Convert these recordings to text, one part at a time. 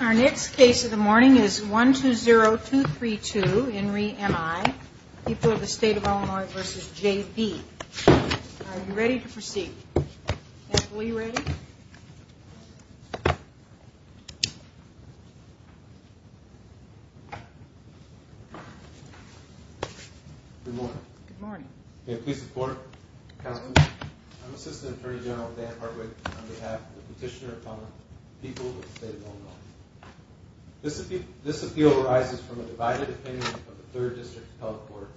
Our next case of the morning is one two zero two three two in re M.I. People of the state of Illinois versus J.B. Ready to proceed. We read. Good morning. Please support. I'm assistant attorney general Dan Hartwick. On behalf of the petitioner upon people of the state of Illinois, this appeal arises from a divided opinion of the third district health court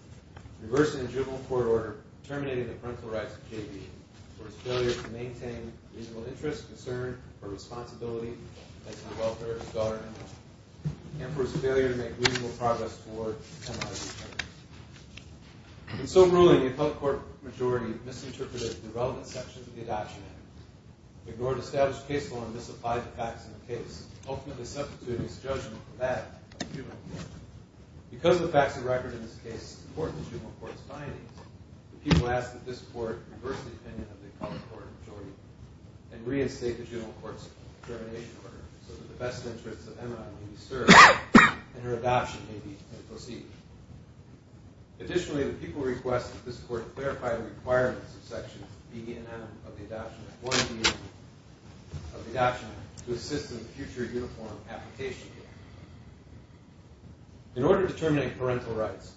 reversing the juvenile court order terminating the parental rights of J.B. For his failure to maintain reasonable interest, concern, or responsibility as a welfare scholar and for his failure to make reasonable progress toward M.I. And so ruling the appellate court majority misinterpreted the relevant sections of the adoption act, ignored established case law, and misapplied the facts of the case, ultimately substituting his judgment for that of the juvenile court. Because the facts of the record in this case support the juvenile court's findings, the people ask that this court reverse the opinion of the appellate court majority and reinstate the juvenile court's termination order so that the best interests of M.I. may be served and her adoption may proceed. Additionally, the people request that this court clarify the requirements of sections B and M of the adoption act, 1B of the adoption act, to assist in future uniform application. In order to terminate parental rights,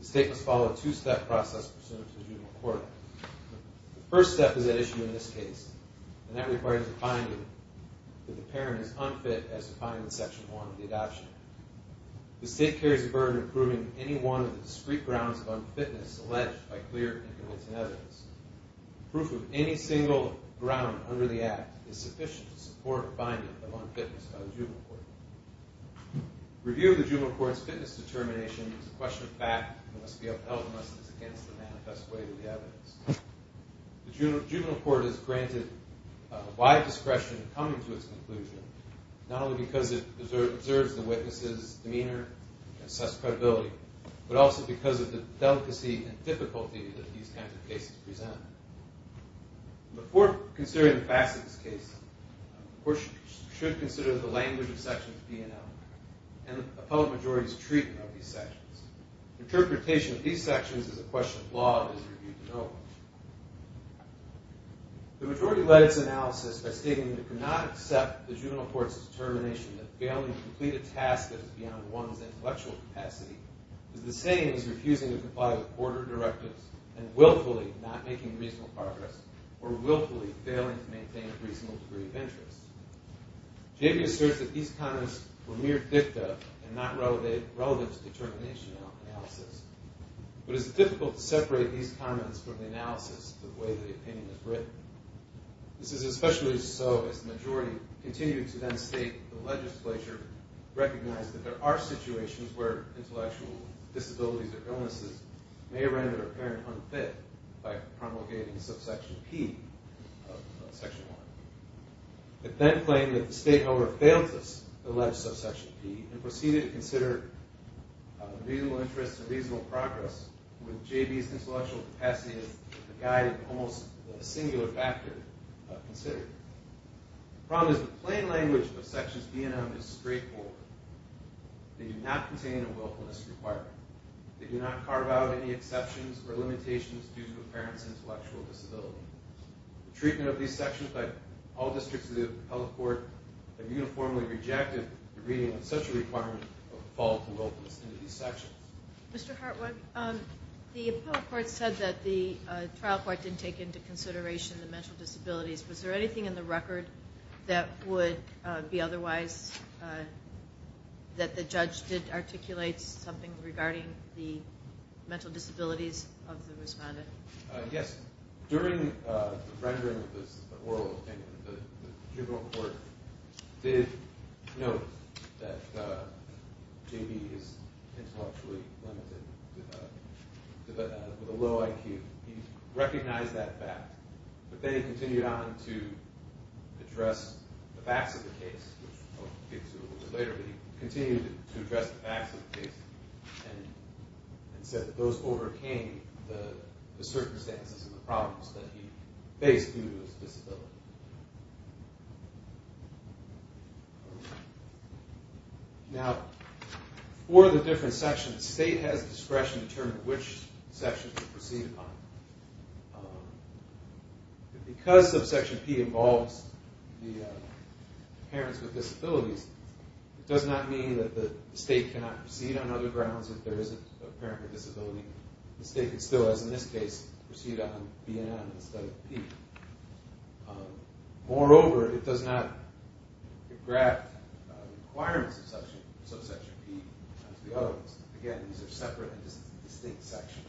the state must follow a two-step process pursuant to the juvenile court. The first step is at issue in this case, and that requires a finding that the parent is unfit as to find in section 1 of the adoption act. The state carries the burden of proving any one of the discrete grounds of unfitness alleged by clear and convincing evidence. Proof of any single ground under the act is sufficient to support a finding of unfitness by the juvenile court. Review of the juvenile court's fitness determination is a question of fact and must be upheld unless it is against the manifest weight of the evidence. The juvenile court is granted wide discretion in coming to its conclusion, not only because it observes the witness's demeanor and assess credibility, but also because of the delicacy and difficulty that these kinds of cases present. Before considering the facts of this case, the court should consider the language of sections B and M and the appellate majority's treatment of these sections. Interpretation of these sections is a question of law that is reviewed to know. The majority led its analysis by stating that it could not accept the juvenile court's determination that failing to complete a task that is beyond one's intellectual capacity is the same as refusing to comply with order directives and willfully not making reasonable progress or willfully failing to maintain a reasonable degree of interest. Jamie asserts that these comments were mere dicta and not relative to determination analysis, but it is difficult to separate these comments from the analysis the way the opinion is written. This is especially so as the majority continue to then state that the legislature recognized that there are situations where intellectual disabilities or illnesses may render a parent unfit by promulgating subsection P of section 1. It then claimed that the state, however, failed to allege subsection P and proceeded to consider reasonable interest and reasonable progress with J.B.'s intellectual capacity as a guided, almost singular factor considered. The problem is that the plain language of sections B and M is straightforward. They do not contain a willfulness requirement. They do not carve out any exceptions or limitations due to a parent's intellectual disability. The treatment of these sections by all districts of the appellate court have uniformly rejected the reading of such a requirement of the fall of the willfulness into these sections. Mr. Hartwig, the appellate court said that the trial court didn't take into consideration the mental disabilities. Was there anything in the record that would be otherwise, that the judge did articulate something regarding the mental disabilities of the respondent? Yes. During the rendering of this oral opinion, the tribunal court did note that J.B. is intellectually limited with a low IQ. He recognized that fact, but then he continued on to address the facts of the case, which I'll get to a little bit later. But he continued to address the facts of the case and said that those overcame the circumstances and the problems that he faced due to his disability. Now, for the different sections, the state has discretion to determine which sections to proceed upon. Because subsection P involves the parents with disabilities, it does not mean that the state cannot proceed on other grounds if there is a parent with a disability. The state can still, as in this case, proceed on B and M instead of P. Moreover, it does not graft requirements of subsection P onto the other ones. Again, these are separate and distinct sections.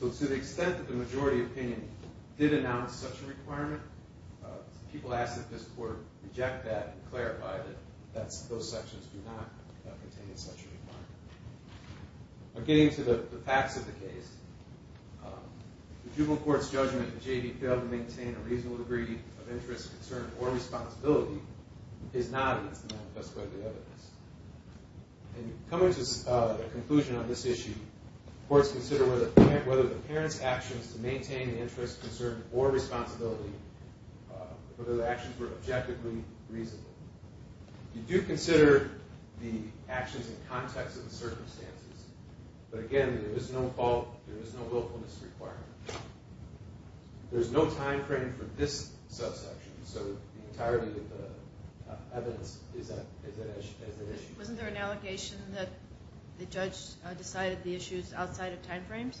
So to the extent that the majority opinion did announce such a requirement, people asked that this court reject that and clarify that those sections do not contain such a requirement. Getting to the facts of the case, the tribunal court's judgment that J.B. failed to maintain a reasonable degree of interest, concern, or responsibility is not as manifested by the evidence. And coming to a conclusion on this issue, courts consider whether the parent's actions to maintain the interest, concern, or responsibility, whether the actions were objectively reasonable. You do consider the actions in context of the circumstances. But again, there is no fault, there is no willfulness requirement. There is no time frame for this subsection, so the entirety of the evidence is at issue. Wasn't there an allegation that the judge decided the issues outside of time frames?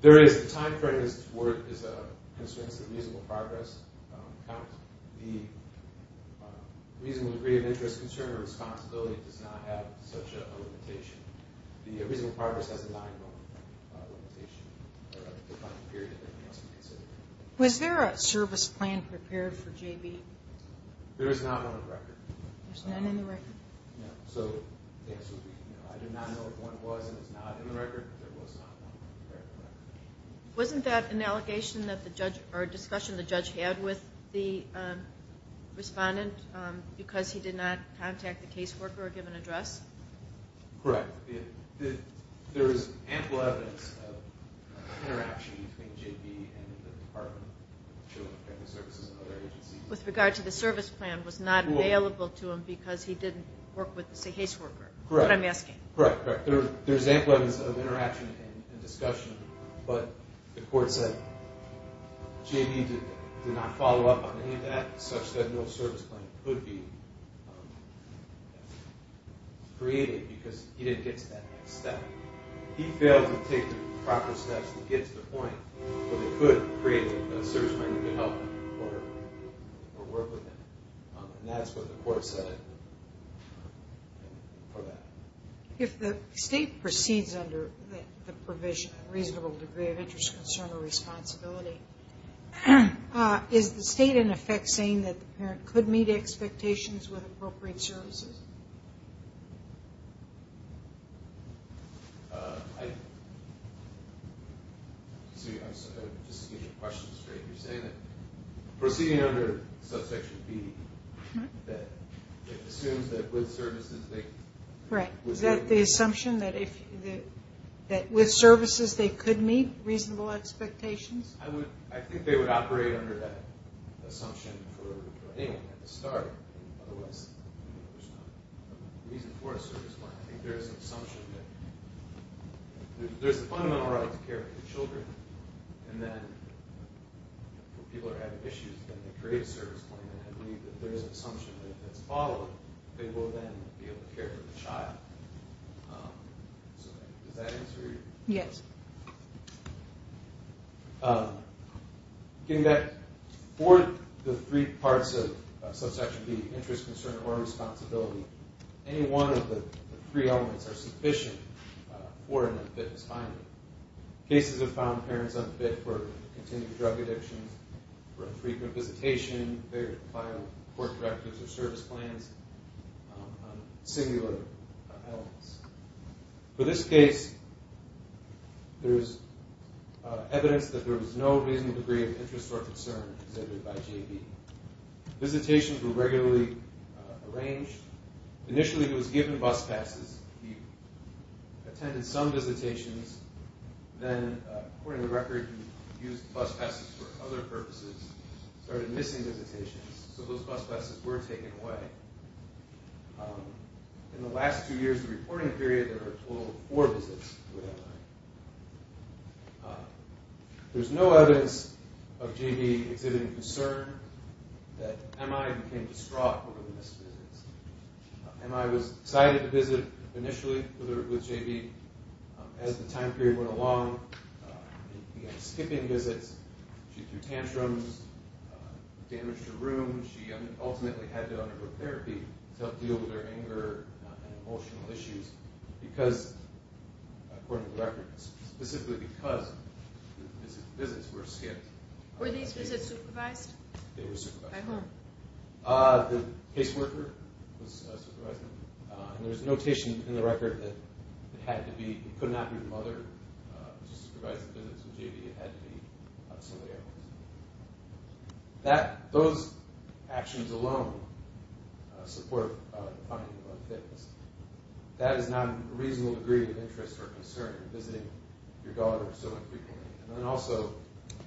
There is. The time frame is a constraint to the reasonable progress count. The reasonable degree of interest, concern, or responsibility does not have such a limitation. The reasonable progress has a time frame limitation. Was there a service plan prepared for J.B.? There is not one on the record. There's none on the record? No. I do not know if one was and is not on the record, but there was not one prepared on the record. Wasn't that an allegation that the judge, or a discussion the judge had with the respondent because he did not contact the caseworker or give an address? Correct. There is ample evidence of interaction between J.B. and the Department of Children and Family Services and other agencies. With regard to the service plan was not available to him because he didn't work with the caseworker, is what I'm asking. Correct. There's ample evidence of interaction and discussion, but the court said J.B. did not follow up on any of that, such that no service plan could be. Created because he didn't get to that next step. He failed to take the proper steps to get to the point where they could create a service plan to help or work with him. And that's what the court said for that. If the state proceeds under the provision, reasonable degree of interest, concern, or responsibility, is the state in effect saying that the parent could meet expectations with appropriate services? I'm just going to get your question straight. You're saying that proceeding under subsection B, that it assumes that with services they could meet reasonable expectations? I think they would operate under that assumption for anyone at the start. Otherwise, there's no reason for a service plan. I think there's an assumption that there's a fundamental right to care for the children. And then, when people are having issues, then they create a service plan and believe that there's an assumption that if it's followed, they will then be able to care for the child. Does that answer your question? Yes. Getting back, for the three parts of subsection B, interest, concern, or responsibility, any one of the three elements are sufficient for an unfitness finding. Cases have found parents unfit for continued drug addiction, for infrequent visitation, failure to file court directives or service plans, singular elements. For this case, there's evidence that there was no reasonable degree of interest or concern exhibited by J.B. Visitations were regularly arranged. Initially, he was given bus passes. He attended some visitations. Then, according to the record, he used bus passes for other purposes. He started missing visitations, so those bus passes were taken away. In the last two years of the reporting period, there were a total of four visits with M.I. There's no evidence of J.B. exhibiting concern that M.I. became distraught over the missed visits. M.I. was excited to visit initially with J.B. As the time period went along, he began skipping visits. She threw tantrums, damaged her room. She ultimately had to undergo therapy to help deal with her anger and emotional issues because, according to the record, specifically because the visits were skipped. Were these visits supervised? They were supervised. By whom? The caseworker was supervising. There's notation in the record that it could not be the mother who supervised the visits with J.B. It had to be somebody else. Those actions alone support the finding of unfitness. That is not a reasonable degree of interest or concern, visiting your daughter so infrequently. Also,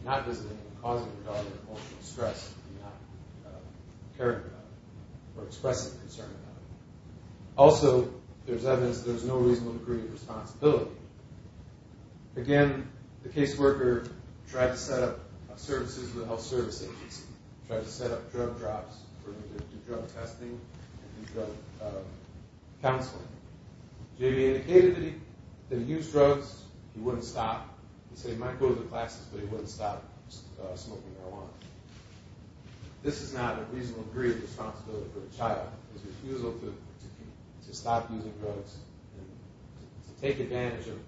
not visiting and causing your daughter emotional stress, not caring about it or expressing concern about it. Also, there's evidence that there's no reasonable degree of responsibility. Again, the caseworker tried to set up services with a health service agency. Tried to set up drug drops for him to do drug testing and drug counseling. J.B. indicated that he used drugs. He wouldn't stop. He said he might go to the classes, but he wouldn't stop smoking marijuana. This is not a reasonable degree of responsibility for the child. His refusal to stop using drugs and to take advantage of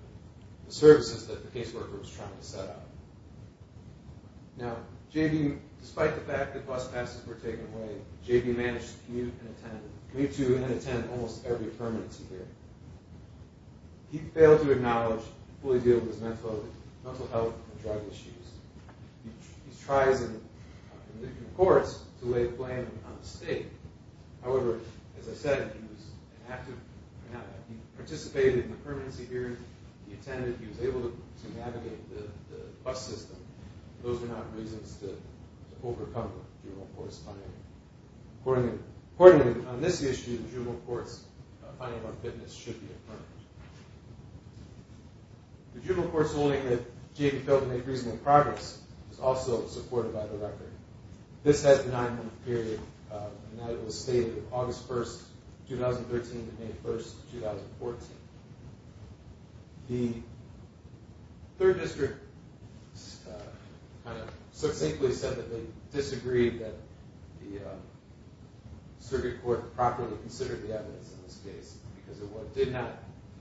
the services that the caseworker was trying to set up. Now, J.B., despite the fact that bus passes were taken away, J.B. managed to commute and attend almost every permanency hearing. He failed to acknowledge and fully deal with his mental health and drug issues. He tries in different courts to lay blame on the state. However, as I said, he participated in the permanency hearings. He attended. He was able to navigate the bus system. Those are not reasons to overcome juvenile court's funding. Accordingly, on this issue, the juvenile court's funding for fitness should be affirmed. The juvenile court's ruling that J.B. failed to make reasonable progress is also supported by the record. This has a nine-month period. And that was stated August 1, 2013 to May 1, 2014. The third district kind of succinctly said that they disagreed that the circuit court properly considered the evidence in this case because it did not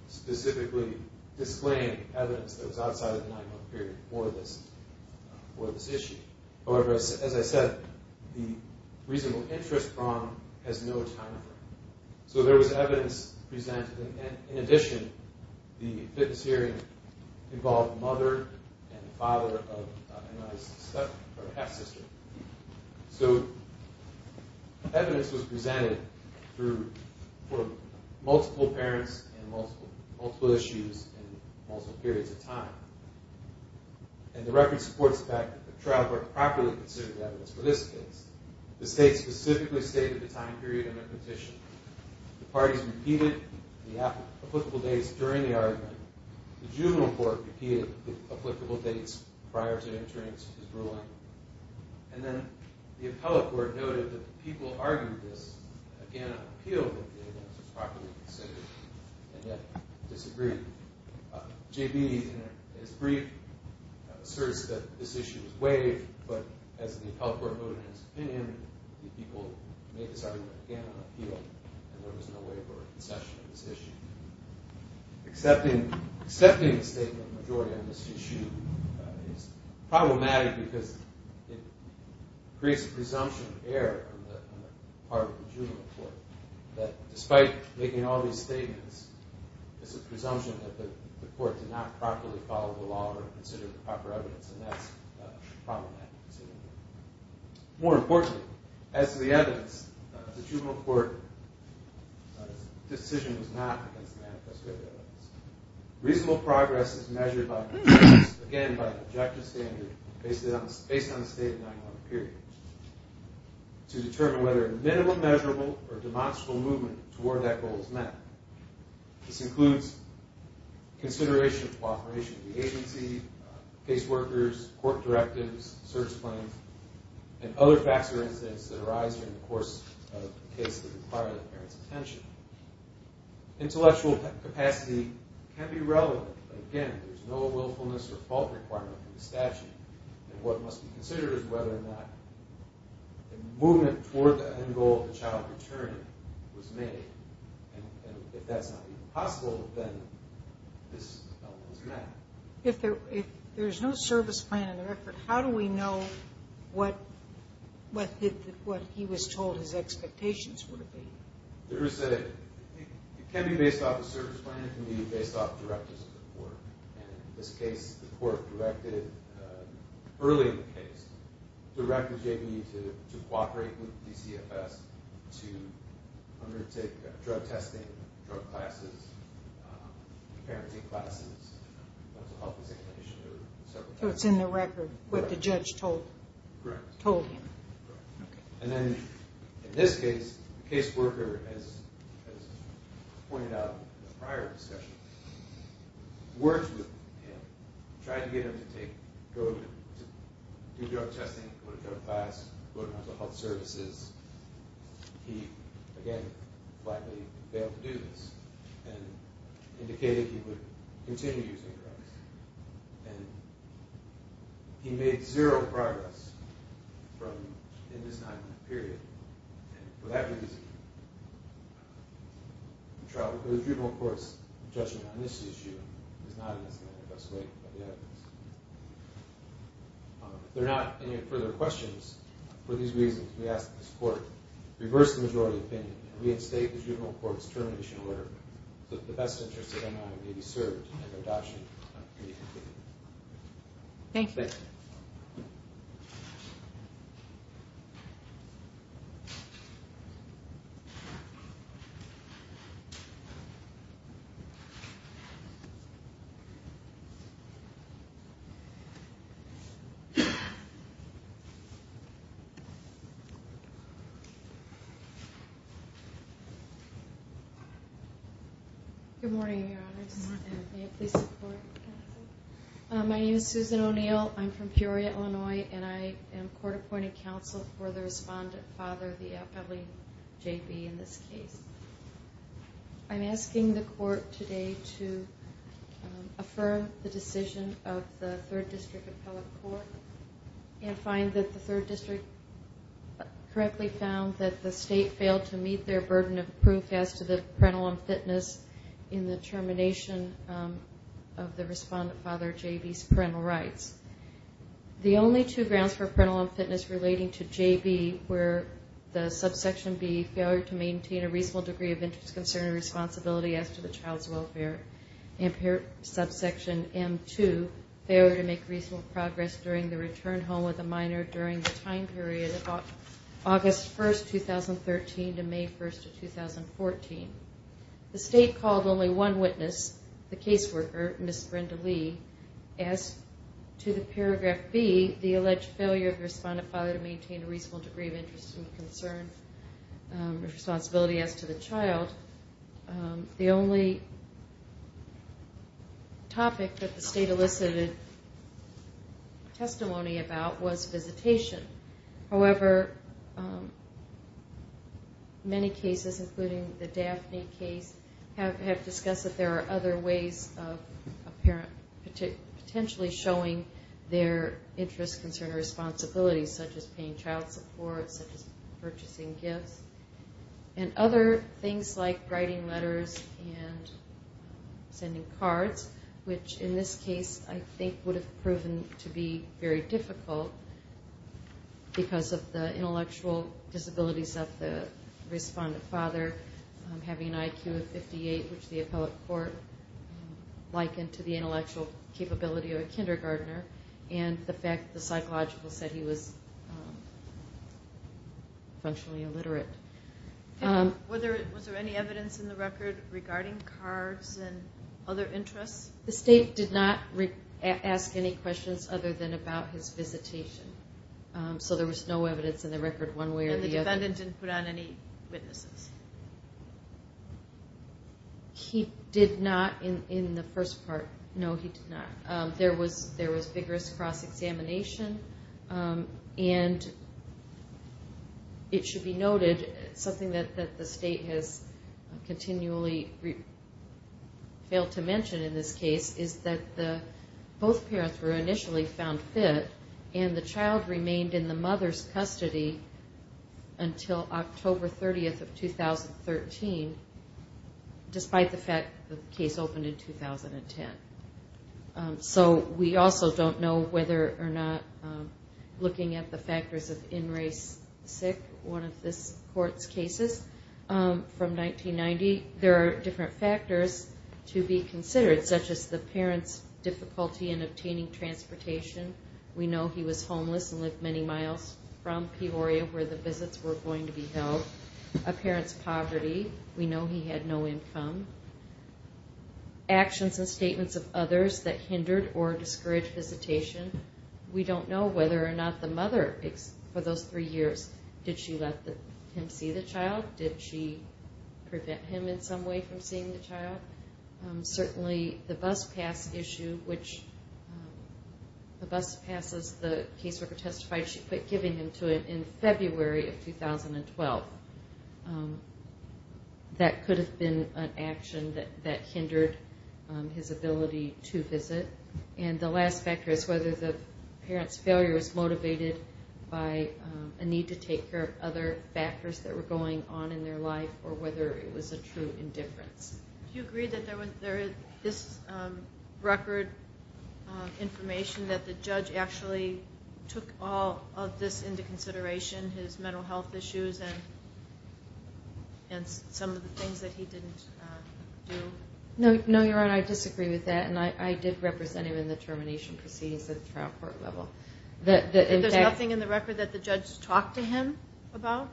specifically disclaim evidence that was outside of the nine-month period for this issue. However, as I said, the reasonable interest prong has no time frame. So there was evidence presented. In addition, the fitness hearing involved the mother and father of my half-sister. So evidence was presented for multiple parents and multiple issues and multiple periods of time. And the record supports the fact that the trial court properly considered the evidence for this case. The state specifically stated the time period in their petition. The parties repeated the applicable dates during the argument. The juvenile court repeated the applicable dates prior to entering its ruling. And then the appellate court noted that the people argued this. Again, an appeal that the evidence was properly considered and yet disagreed. J.B., in his brief, asserts that this issue was waived. But as the appellate court noted in his opinion, the people made this argument again on appeal. And there was no waiver or concession on this issue. Accepting the statement of majority on this issue is problematic because it creates a presumption of error on the part of the juvenile court that despite making all these statements, it's a presumption that the court did not properly follow the law or consider the proper evidence. And that's problematic. More importantly, as to the evidence, the juvenile court's decision was not against the manifesto evidence. Reasonable progress is measured again by the objective standard based on the stated 9-1-1 period to determine whether a minimum measurable or demonstrable movement toward that goal is met. This includes consideration of cooperation of the agency, caseworkers, court directives, search claims, and other facts or incidents that arise in the course of the case that require the parent's attention. Intellectual capacity can be relevant, but again, there's no willfulness or fault requirement in the statute. And what must be considered is whether or not a movement toward the end goal of the child returning was made. And if that's not even possible, then this element is bad. If there's no service plan in the record, how do we know what he was told his expectations would be? It can be based off a service plan. It can be based off directives of the court. In this case, the court directed early in the case, directed JB to cooperate with DCFS to undertake drug testing, drug classes, parenting classes, mental health examination, or several classes. So it's in the record, what the judge told him. Correct. The judge tried to get him to do drug testing, go to drug class, go to mental health services. He, again, flatly failed to do this and indicated he would continue using drugs. And he made zero progress in this nine-month period. For that reason, the Tribunal Court's judgment on this issue is not in its manifest way. If there are not any further questions, for these reasons, we ask that this Court reverse the majority opinion and reinstate the Tribunal Court's termination order so that the best interests of MI may be served and adoption completed. Thank you. Thank you. Good morning, Your Honor. Good morning. May it please the Court, counsel? My name is Susan O'Neill. I'm from Peoria, Illinois, and I am court-appointed counsel for the respondent father, the appellee JB, in this case. I'm asking the Court today to affirm the decision of the Third District Appellate Court and find that the Third District correctly found that the State failed to meet their burden of proof as to the parental unfitness in the termination of the respondent father JB's parental rights. The only two grounds for parental unfitness relating to JB were the subsection B, failure to maintain a reasonable degree of interest, concern, and responsibility as to the child's welfare, and subsection M2, failure to make reasonable progress during the return home with a minor during the time period of August 1, 2013 to May 1, 2014. The State called only one witness, the caseworker, Ms. Brenda Lee, as to the paragraph B, the alleged failure of the respondent father to maintain a reasonable degree of interest, concern, and responsibility as to the child. The only topic that the State elicited testimony about was visitation. However, many cases, including the Daphne case, have discussed that there are other ways of potentially showing their interest, concern, or responsibility, such as paying child support, such as purchasing gifts, and other things like writing letters and sending cards, which in this case I think would have proven to be very difficult. Because of the intellectual disabilities of the respondent father, having an IQ of 58, which the appellate court likened to the intellectual capability of a kindergartner, and the fact that the psychological said he was functionally illiterate. Was there any evidence in the record regarding cards and other interests? The State did not ask any questions other than about his visitation. So there was no evidence in the record one way or the other. And the defendant didn't put on any witnesses? He did not in the first part. No, he did not. There was vigorous cross-examination, and it should be noted, something that the State has continually failed to mention in this case, is that both parents were initially found fit, and the child remained in the mother's custody until October 30th of 2013, despite the fact that the case opened in 2010. So we also don't know whether or not, looking at the factors of in-race sick, one of this court's cases from 1990, there are different factors to be considered, such as the parent's difficulty in obtaining transportation. We know he was homeless and lived many miles from Peoria, where the visits were going to be held. A parent's poverty. We know he had no income. Actions and statements of others that hindered or discouraged visitation. We don't know whether or not the mother, for those three years, did she let him see the child? Did she prevent him in some way from seeing the child? Certainly the bus pass issue, which the bus passes, the caseworker testified she quit giving him to him in February of 2012. That could have been an action that hindered his ability to visit. And the last factor is whether the parent's failure was motivated by a need to take care of other factors that were going on in their life, or whether it was a true indifference. Do you agree that there is this record information that the judge actually took all of this into consideration, his mental health issues, and some of the things that he didn't do? No, Your Honor, I disagree with that. And I did represent him in the termination proceedings at the trial court level. There's nothing in the record that the judge talked to him about?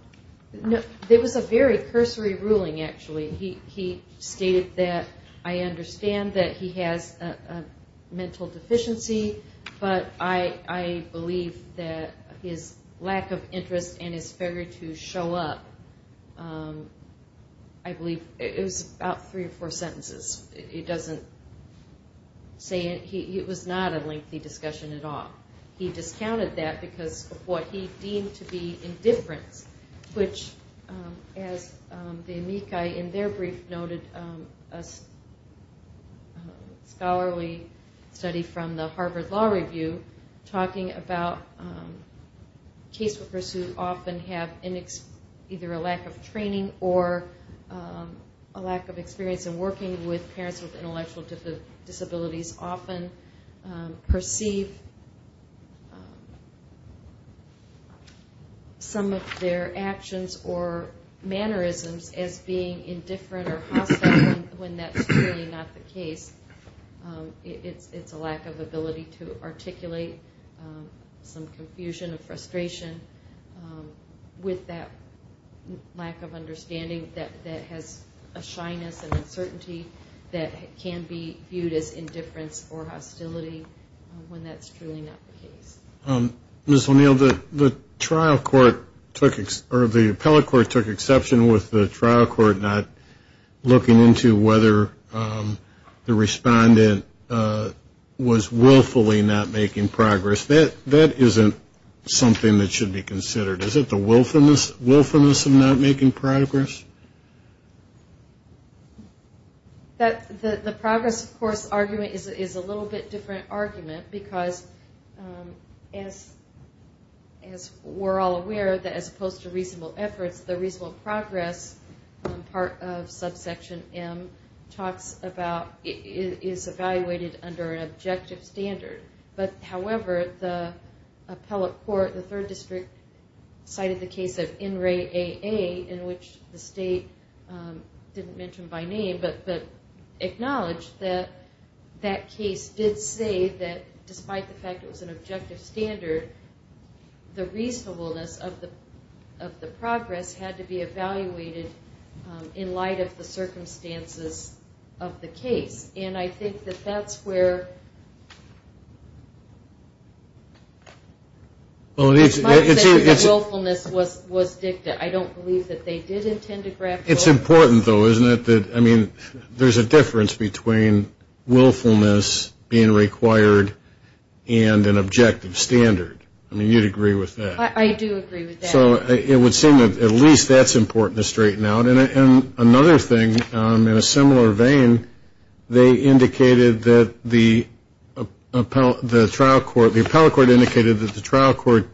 There was a very cursory ruling, actually. He stated that I understand that he has a mental deficiency, but I believe that his lack of interest and his failure to show up, I believe it was about three or four sentences. It was not a lengthy discussion at all. He discounted that because of what he deemed to be indifference, which, as the amici in their brief noted, a scholarly study from the Harvard Law Review, talking about caseworkers who often have either a lack of training or a lack of experience in working with parents with intellectual disabilities often perceive some of their actions or mannerisms as being indifferent or hostile when that's clearly not the case. It's a lack of ability to articulate some confusion or frustration with that lack of understanding that has a shyness and uncertainty that can be viewed as indifference or hostility when that's truly not the case. Ms. O'Neill, the trial court took, or the appellate court took exception with the trial court not looking into whether the respondent was willfully not making progress. That isn't something that should be considered. Is it the willfulness of not making progress? The progress, of course, argument is a little bit different argument because as we're all aware, as opposed to reasonable efforts, the reasonable progress part of subsection M talks about is evaluated under an objective standard. However, the appellate court, the third district, cited the case of NRAAA in which the state didn't mention by name but acknowledged that that case did say that despite the fact it was an objective standard, the reasonableness of the progress had to be evaluated in light of the circumstances of the case. I think that that's where... Well, it's... Willfulness was dictated. I don't believe that they did intend to grab... It's important, though, isn't it? I mean, there's a difference between willfulness being required and an objective standard. I mean, you'd agree with that. I do agree with that. So it would seem that at least that's important to straighten out. And another thing, in a similar vein, they indicated that the trial court, the appellate court indicated that the trial court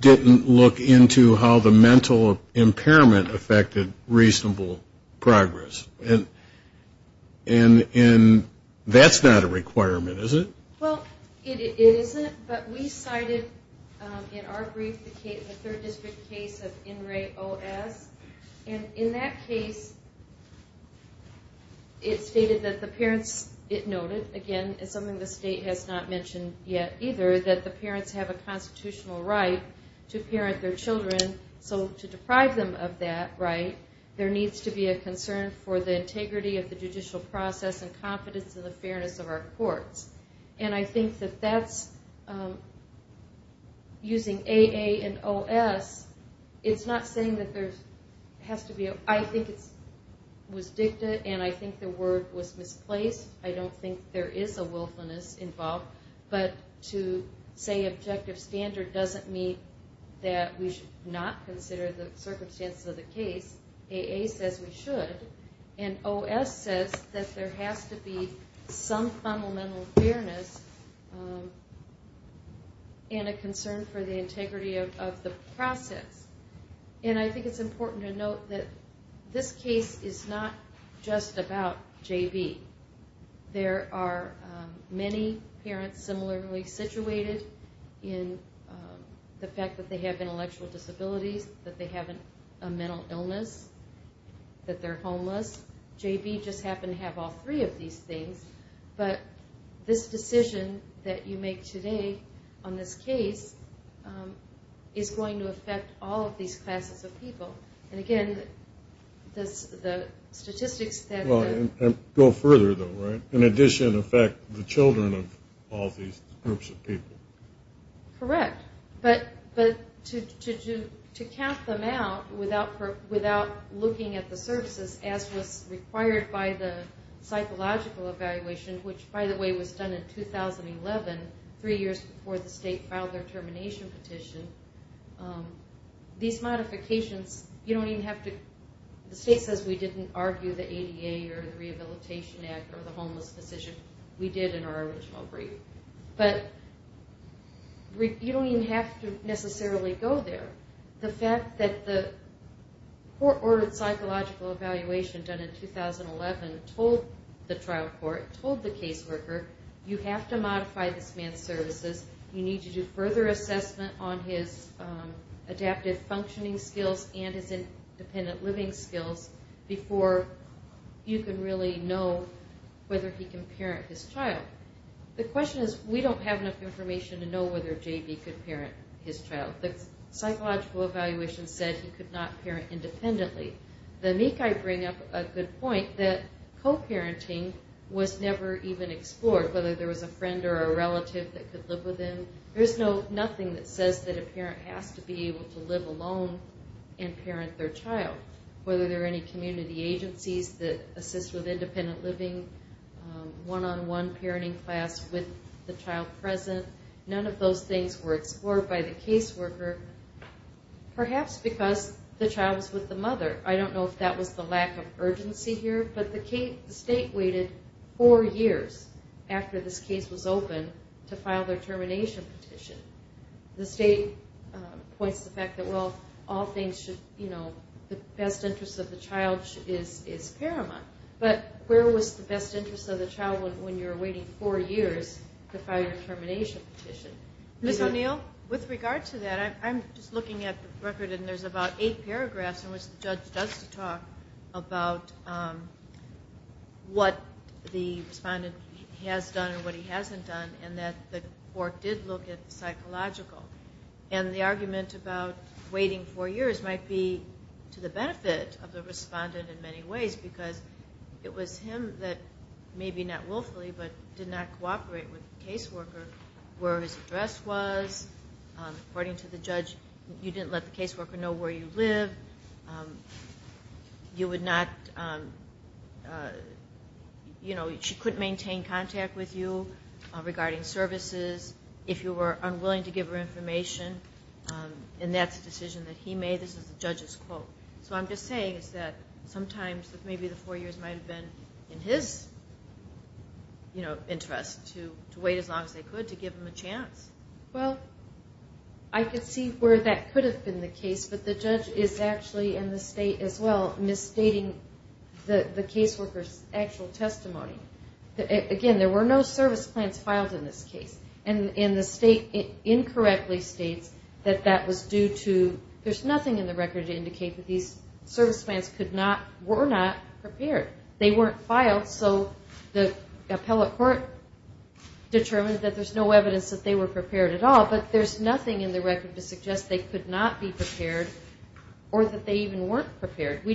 didn't look into how the mental impairment affected reasonable progress. And that's not a requirement, is it? Well, it isn't, but we cited in our brief the case, the third district case of NRAAA-OS. And in that case, it stated that the parents, it noted, again, it's something the state has not mentioned yet either, that the parents have a constitutional right to parent their children, so to deprive them of that right, there needs to be a concern for the integrity of the judicial process and confidence in the fairness of our courts. And I think that that's... Using AA and OS, it's not saying that there has to be... I think it was dictated, and I think the word was misplaced. I don't think there is a wilfulness involved. But to say objective standard doesn't mean that we should not consider the circumstances of the case. AA says we should. And OS says that there has to be some fundamental fairness and a concern for the integrity of the process. And I think it's important to note that this case is not just about JV. There are many parents similarly situated in the fact that they have intellectual disabilities, that they have a mental illness, that they're homeless. JV just happened to have all three of these things. But this decision that you make today on this case is going to affect all of these classes of people. And again, the statistics that... Go further, though, right? In addition, affect the children of all these groups of people. Correct. But to count them out without looking at the services as was required by the psychological evaluation, which, by the way, was done in 2011, three years before the state filed their termination petition, these modifications, you don't even have to... You don't even have to go to the VA or the Rehabilitation Act or the homeless position we did in our original brief. But you don't even have to necessarily go there. The fact that the court-ordered psychological evaluation done in 2011 told the trial court, told the caseworker, you have to modify this man's services. You need to do further assessment on his adaptive functioning skills and his independent living skills before you can really know whether he can parent his child. The question is, we don't have enough information to know whether J.B. could parent his child. The psychological evaluation said he could not parent independently. The MECI bring up a good point that co-parenting was never even explored, whether there was a friend or a relative that could live with him. There's nothing that says that a parent has to be able to live alone and parent their child, whether there are any community agencies that assist with independent living, one-on-one parenting class with the child present. None of those things were explored by the caseworker, perhaps because the child was with the mother. I don't know if that was the lack of urgency here, but the state waited four years after this case was opened to file their termination petition. The state points to the fact that, well, the best interest of the child is paramount, but where was the best interest of the child when you're waiting four years to file your termination petition? Ms. O'Neill? With regard to that, I'm just looking at the record, and there's about eight paragraphs in which the judge does talk about what the respondent has done and what he hasn't done, and that the court did look at the psychological. And the argument about waiting four years might be to the benefit of the respondent in many ways, because it was him that maybe not willfully, but did not cooperate with the caseworker where his address was. According to the judge, you didn't let the caseworker know where you live. You would not... You know, she couldn't maintain contact with you regarding services. If you were unwilling to give her information, she would say, hey, this is the judge's quote. So what I'm just saying is that sometimes maybe the four years might have been in his interest to wait as long as they could to give him a chance. Well, I could see where that could have been the case, but the judge is actually, and the state as well, misstating the caseworker's actual testimony. Again, there were no service plans filed in this case. And the state incorrectly states that that was due to... There's nothing in the record to indicate that these service plans were not prepared. They weren't filed, so the appellate court determined that there's no evidence that they were prepared at all, but there's nothing in the record to suggest they could not be prepared or that they even weren't prepared. They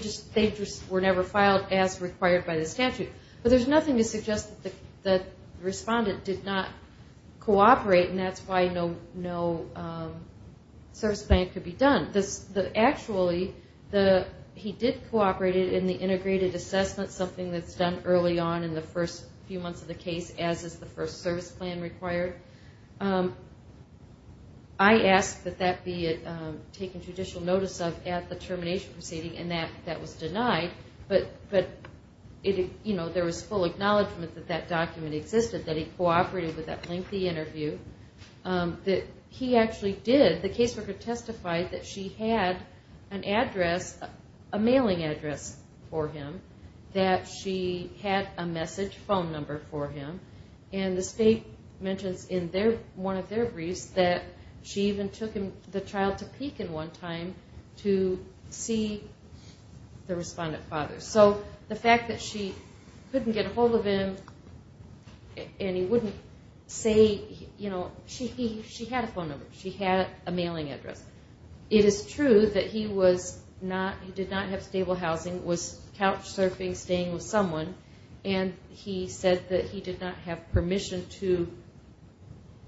just were never filed as required by the statute. But there's nothing to suggest that the respondent did not cooperate, but actually he did cooperate in the integrated assessment, something that's done early on in the first few months of the case, as is the first service plan required. I asked that that be taken judicial notice of at the termination proceeding, and that was denied, but there was full acknowledgement that that document existed, that he cooperated with that lengthy interview. He actually did. He did have an address, a mailing address for him, that she had a message phone number for him, and the state mentions in one of their briefs that she even took the child to Pekin one time to see the respondent father. So the fact that she couldn't get a hold of him and he wouldn't say... She had a phone number. She had a mailing address. He did not have stable housing, was couch surfing, staying with someone, and he said that he did not have permission to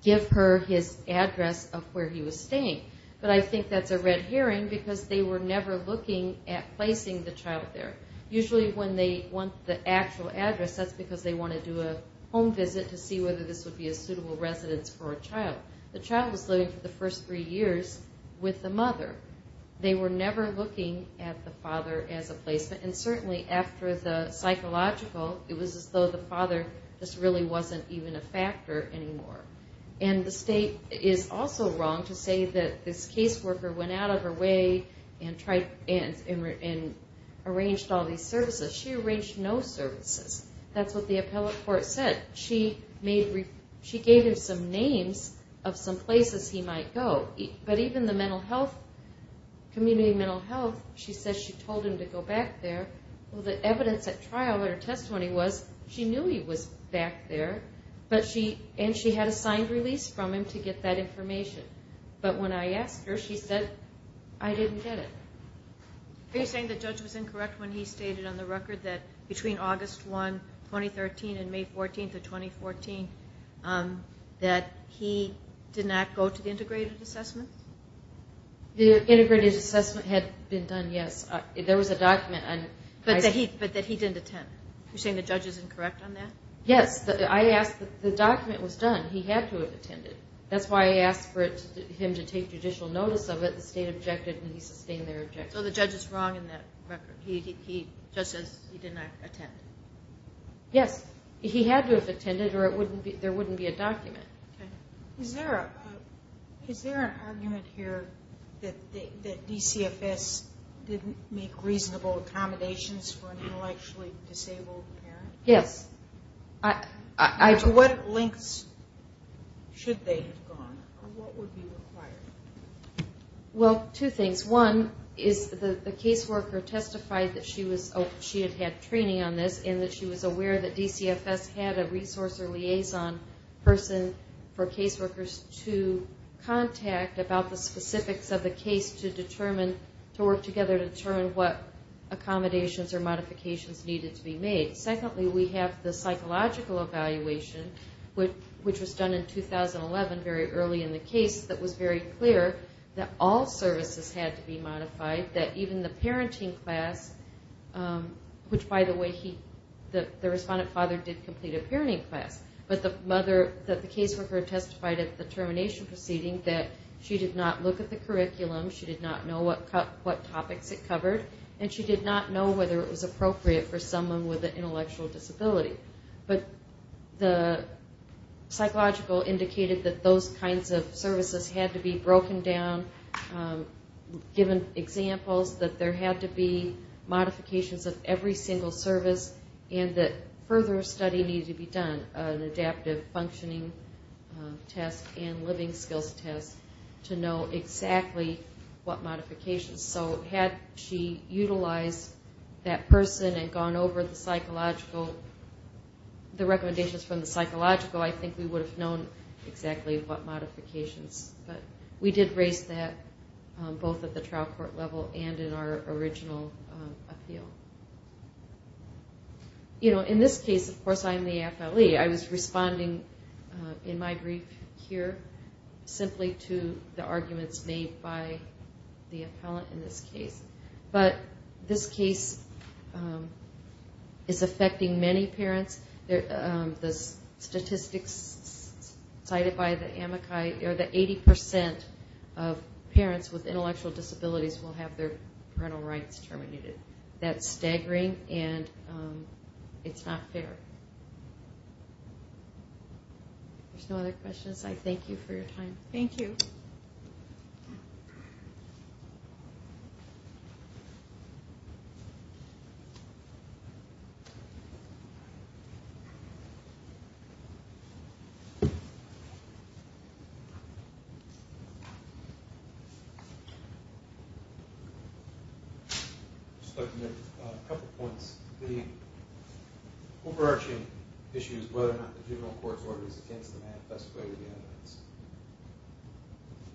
give her his address of where he was staying. But I think that's a red herring because they were never looking at placing the child there. Usually when they want the actual address, that's because they want to do a home visit to see whether this would be a suitable residence for a child. The child was living for the first three years with the mother. They were never looking at the father as a placement, and certainly after the psychological, it was as though the father just really wasn't even a factor anymore. And the state is also wrong to say that this caseworker went out of her way and arranged all these services. She arranged no services. That's what the appellate court said. She gave him some names of some places he might go. She told him to go back there. Well, the evidence at trial, her testimony was she knew he was back there, and she had a signed release from him to get that information. But when I asked her, she said, I didn't get it. Are you saying the judge was incorrect when he stated on the record that between August 1, 2013, and May 14, 2014, that he did not go to the integrated assessment? The integrated assessment had been done, yes. There was a document. But that he didn't attend. Are you saying the judge is incorrect on that? Yes. The document was done. He had to have attended. That's why I asked for him to take judicial notice of it. The state objected, and he sustained their objection. So the judge is wrong in that record. The judge says he did not attend. Is there any argument here that DCFS didn't make reasonable accommodations for an intellectually disabled parent? Yes. To what lengths should they have gone? Or what would be required? Well, two things. One, the caseworker testified that she had had training on this, and that she was aware that DCFS had a resource or liaison person for caseworkers who knew about the specifics of the case to work together to determine what accommodations or modifications needed to be made. Secondly, we have the psychological evaluation, which was done in 2011, very early in the case, that was very clear that all services had to be modified, that even the parenting class, which, by the way, the respondent father did complete a parenting class, but the caseworker testified at the termination proceeding that she did not look at the curriculum, she did not know what topics it covered, and she did not know whether it was appropriate for someone with an intellectual disability. But the psychological indicated that those kinds of services had to be broken down, given examples that there had to be modifications of every single service, and that further study needed to be done, an adaptive functioning test to know exactly what modifications. So had she utilized that person and gone over the psychological, the recommendations from the psychological, I think we would have known exactly what modifications. But we did raise that both at the trial court level and in our original appeal. You know, in this case, of course, I'm the FLE. I was responding in my brief here simply to the arguments made by the appellant in this case. But this case is affecting many parents. The statistics cited by the amici, the 80% of parents with intellectual disabilities will have their parental rights terminated. That's staggering, and it's not fair. If there's no other questions, I thank you for your time. Thank you. I'd just like to make a couple points.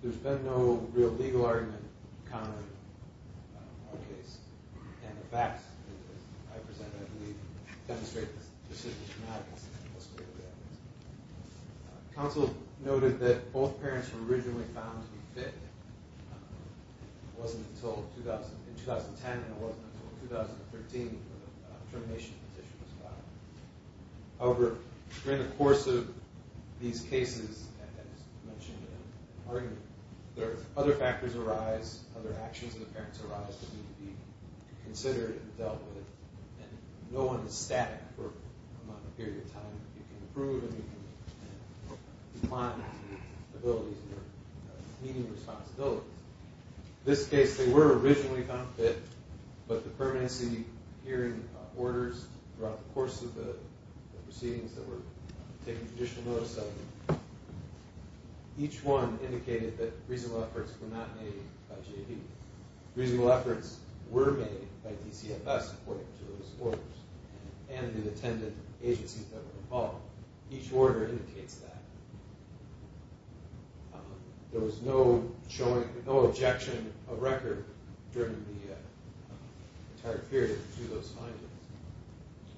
There's been no real legal argument countered in our case. And the facts I presented, I believe, demonstrate this decision is not consistent with the state of the evidence. Counsel noted that both parents were originally found to be fit. It wasn't until 2010, and it wasn't until 2013 that the termination petition was filed. And over the course of these cases, and as you mentioned in the argument, other factors arise, other actions of the parents arise that need to be considered and dealt with. And no one is static for a long period of time. You can improve, and you can decline the abilities of meeting responsibilities. In this case, they were originally found fit, but the permanency hearing orders throughout the course of the proceedings that were taking judicial notice of them, each one indicated that reasonable efforts were not made by JV. Reasonable efforts were made by DCFS, according to those orders, and the attendant agencies that were involved. Each order indicates that. There was no objection of record during the entire period to those findings.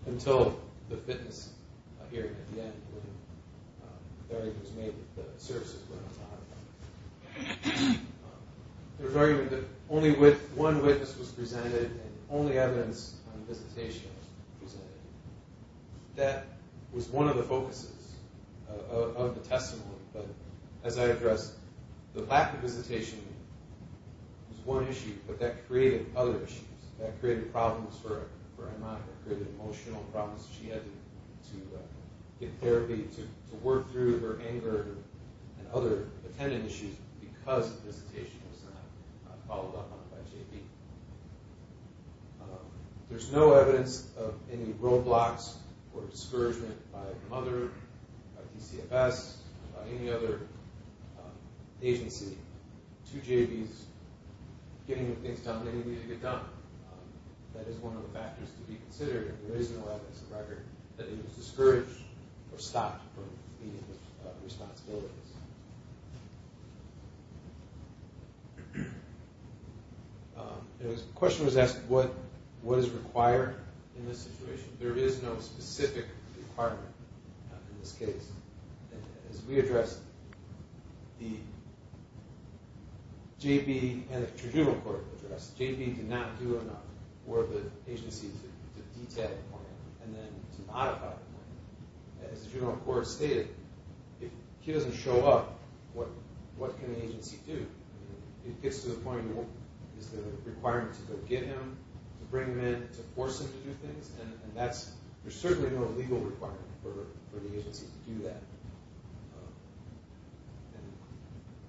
Until the fitness hearing at the end, when the argument was made that the services were not allowed. There was argument that only one witness was presented, and only evidence on visitation was presented. That was one of the focuses of the testimony, but as I addressed, the lack of visitation was one issue, but that created other issues. That created problems for Emma. It created emotional problems. She had to get therapy to work through her anger and other attendant issues because the visitation was not followed up by JV. There's no evidence of any roadblocks or discouragement by Mother, by DCFS, by any other agency to JV's getting things done they needed to get done. That is one of the factors to be considered if there is no evidence of record that he was discouraged or stopped from meeting his responsibilities. The question was asked, what is required in this situation? There is no specific requirement in this case. As we addressed, the JV had a tribunal court address. JV did not do enough for the agency to detail the point and then to modify the point. As the tribunal court stated, if he doesn't show up, what can the agency do? It gets to the point, is there a requirement to go get him, to bring him in, to force him to do things? There's certainly no legal requirement for the agency to do that.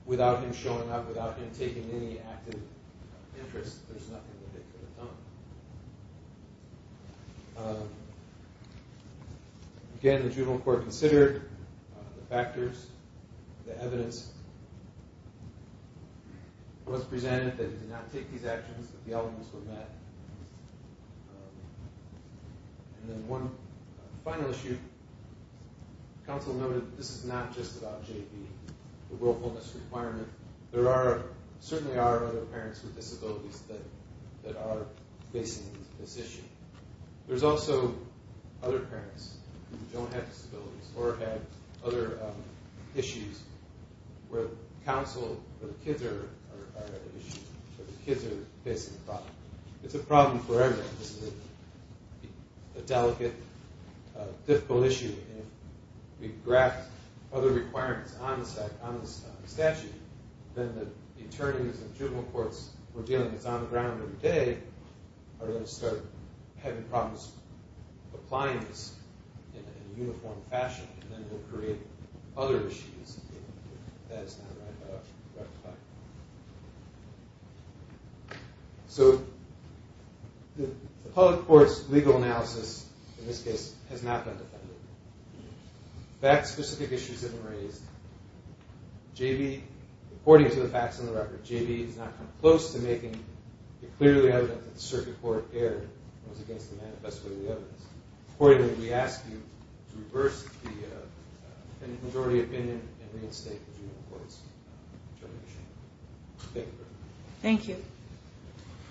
Without him showing up, without him taking any active interest, there's nothing that they could have done. Again, the tribunal court considered the factors, the evidence. It was presented that he did not take these actions, that the elements were met. And then one final issue, counsel noted, this is not just about JV, the willfulness requirement. There certainly are other parents with disabilities that are facing this issue. There's also other parents who don't have disabilities or have other issues where counsel or the kids are facing the problem. It's a problem for everyone. It's a delicate, difficult issue. And if we draft other requirements on the statute, then the attorneys and tribunal courts who are dealing with this on the ground every day are going to start having problems applying this in a uniform fashion. And then it will create other issues that it's not going to rectify. So, the public court's legal analysis, in this case, has not been defended. Fact-specific issues have been raised. JV, according to the facts on the record, JV has not come close to making it clearly evident that the circuit court erred and was against the manifesto of the evidence. Accordingly, we ask you to reverse the majority opinion and reinstate the tribunal court's determination. Thank you very much. Thank you.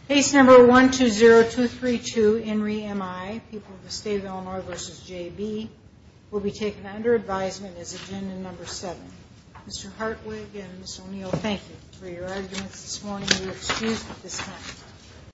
Case number 120232, Henry M.I., people of the State of Illinois v. J.B., will be taken under advisement as agenda number seven. Mr. Hartwig and Ms. O'Neill, thank you for your arguments this morning. We excuse you at this time.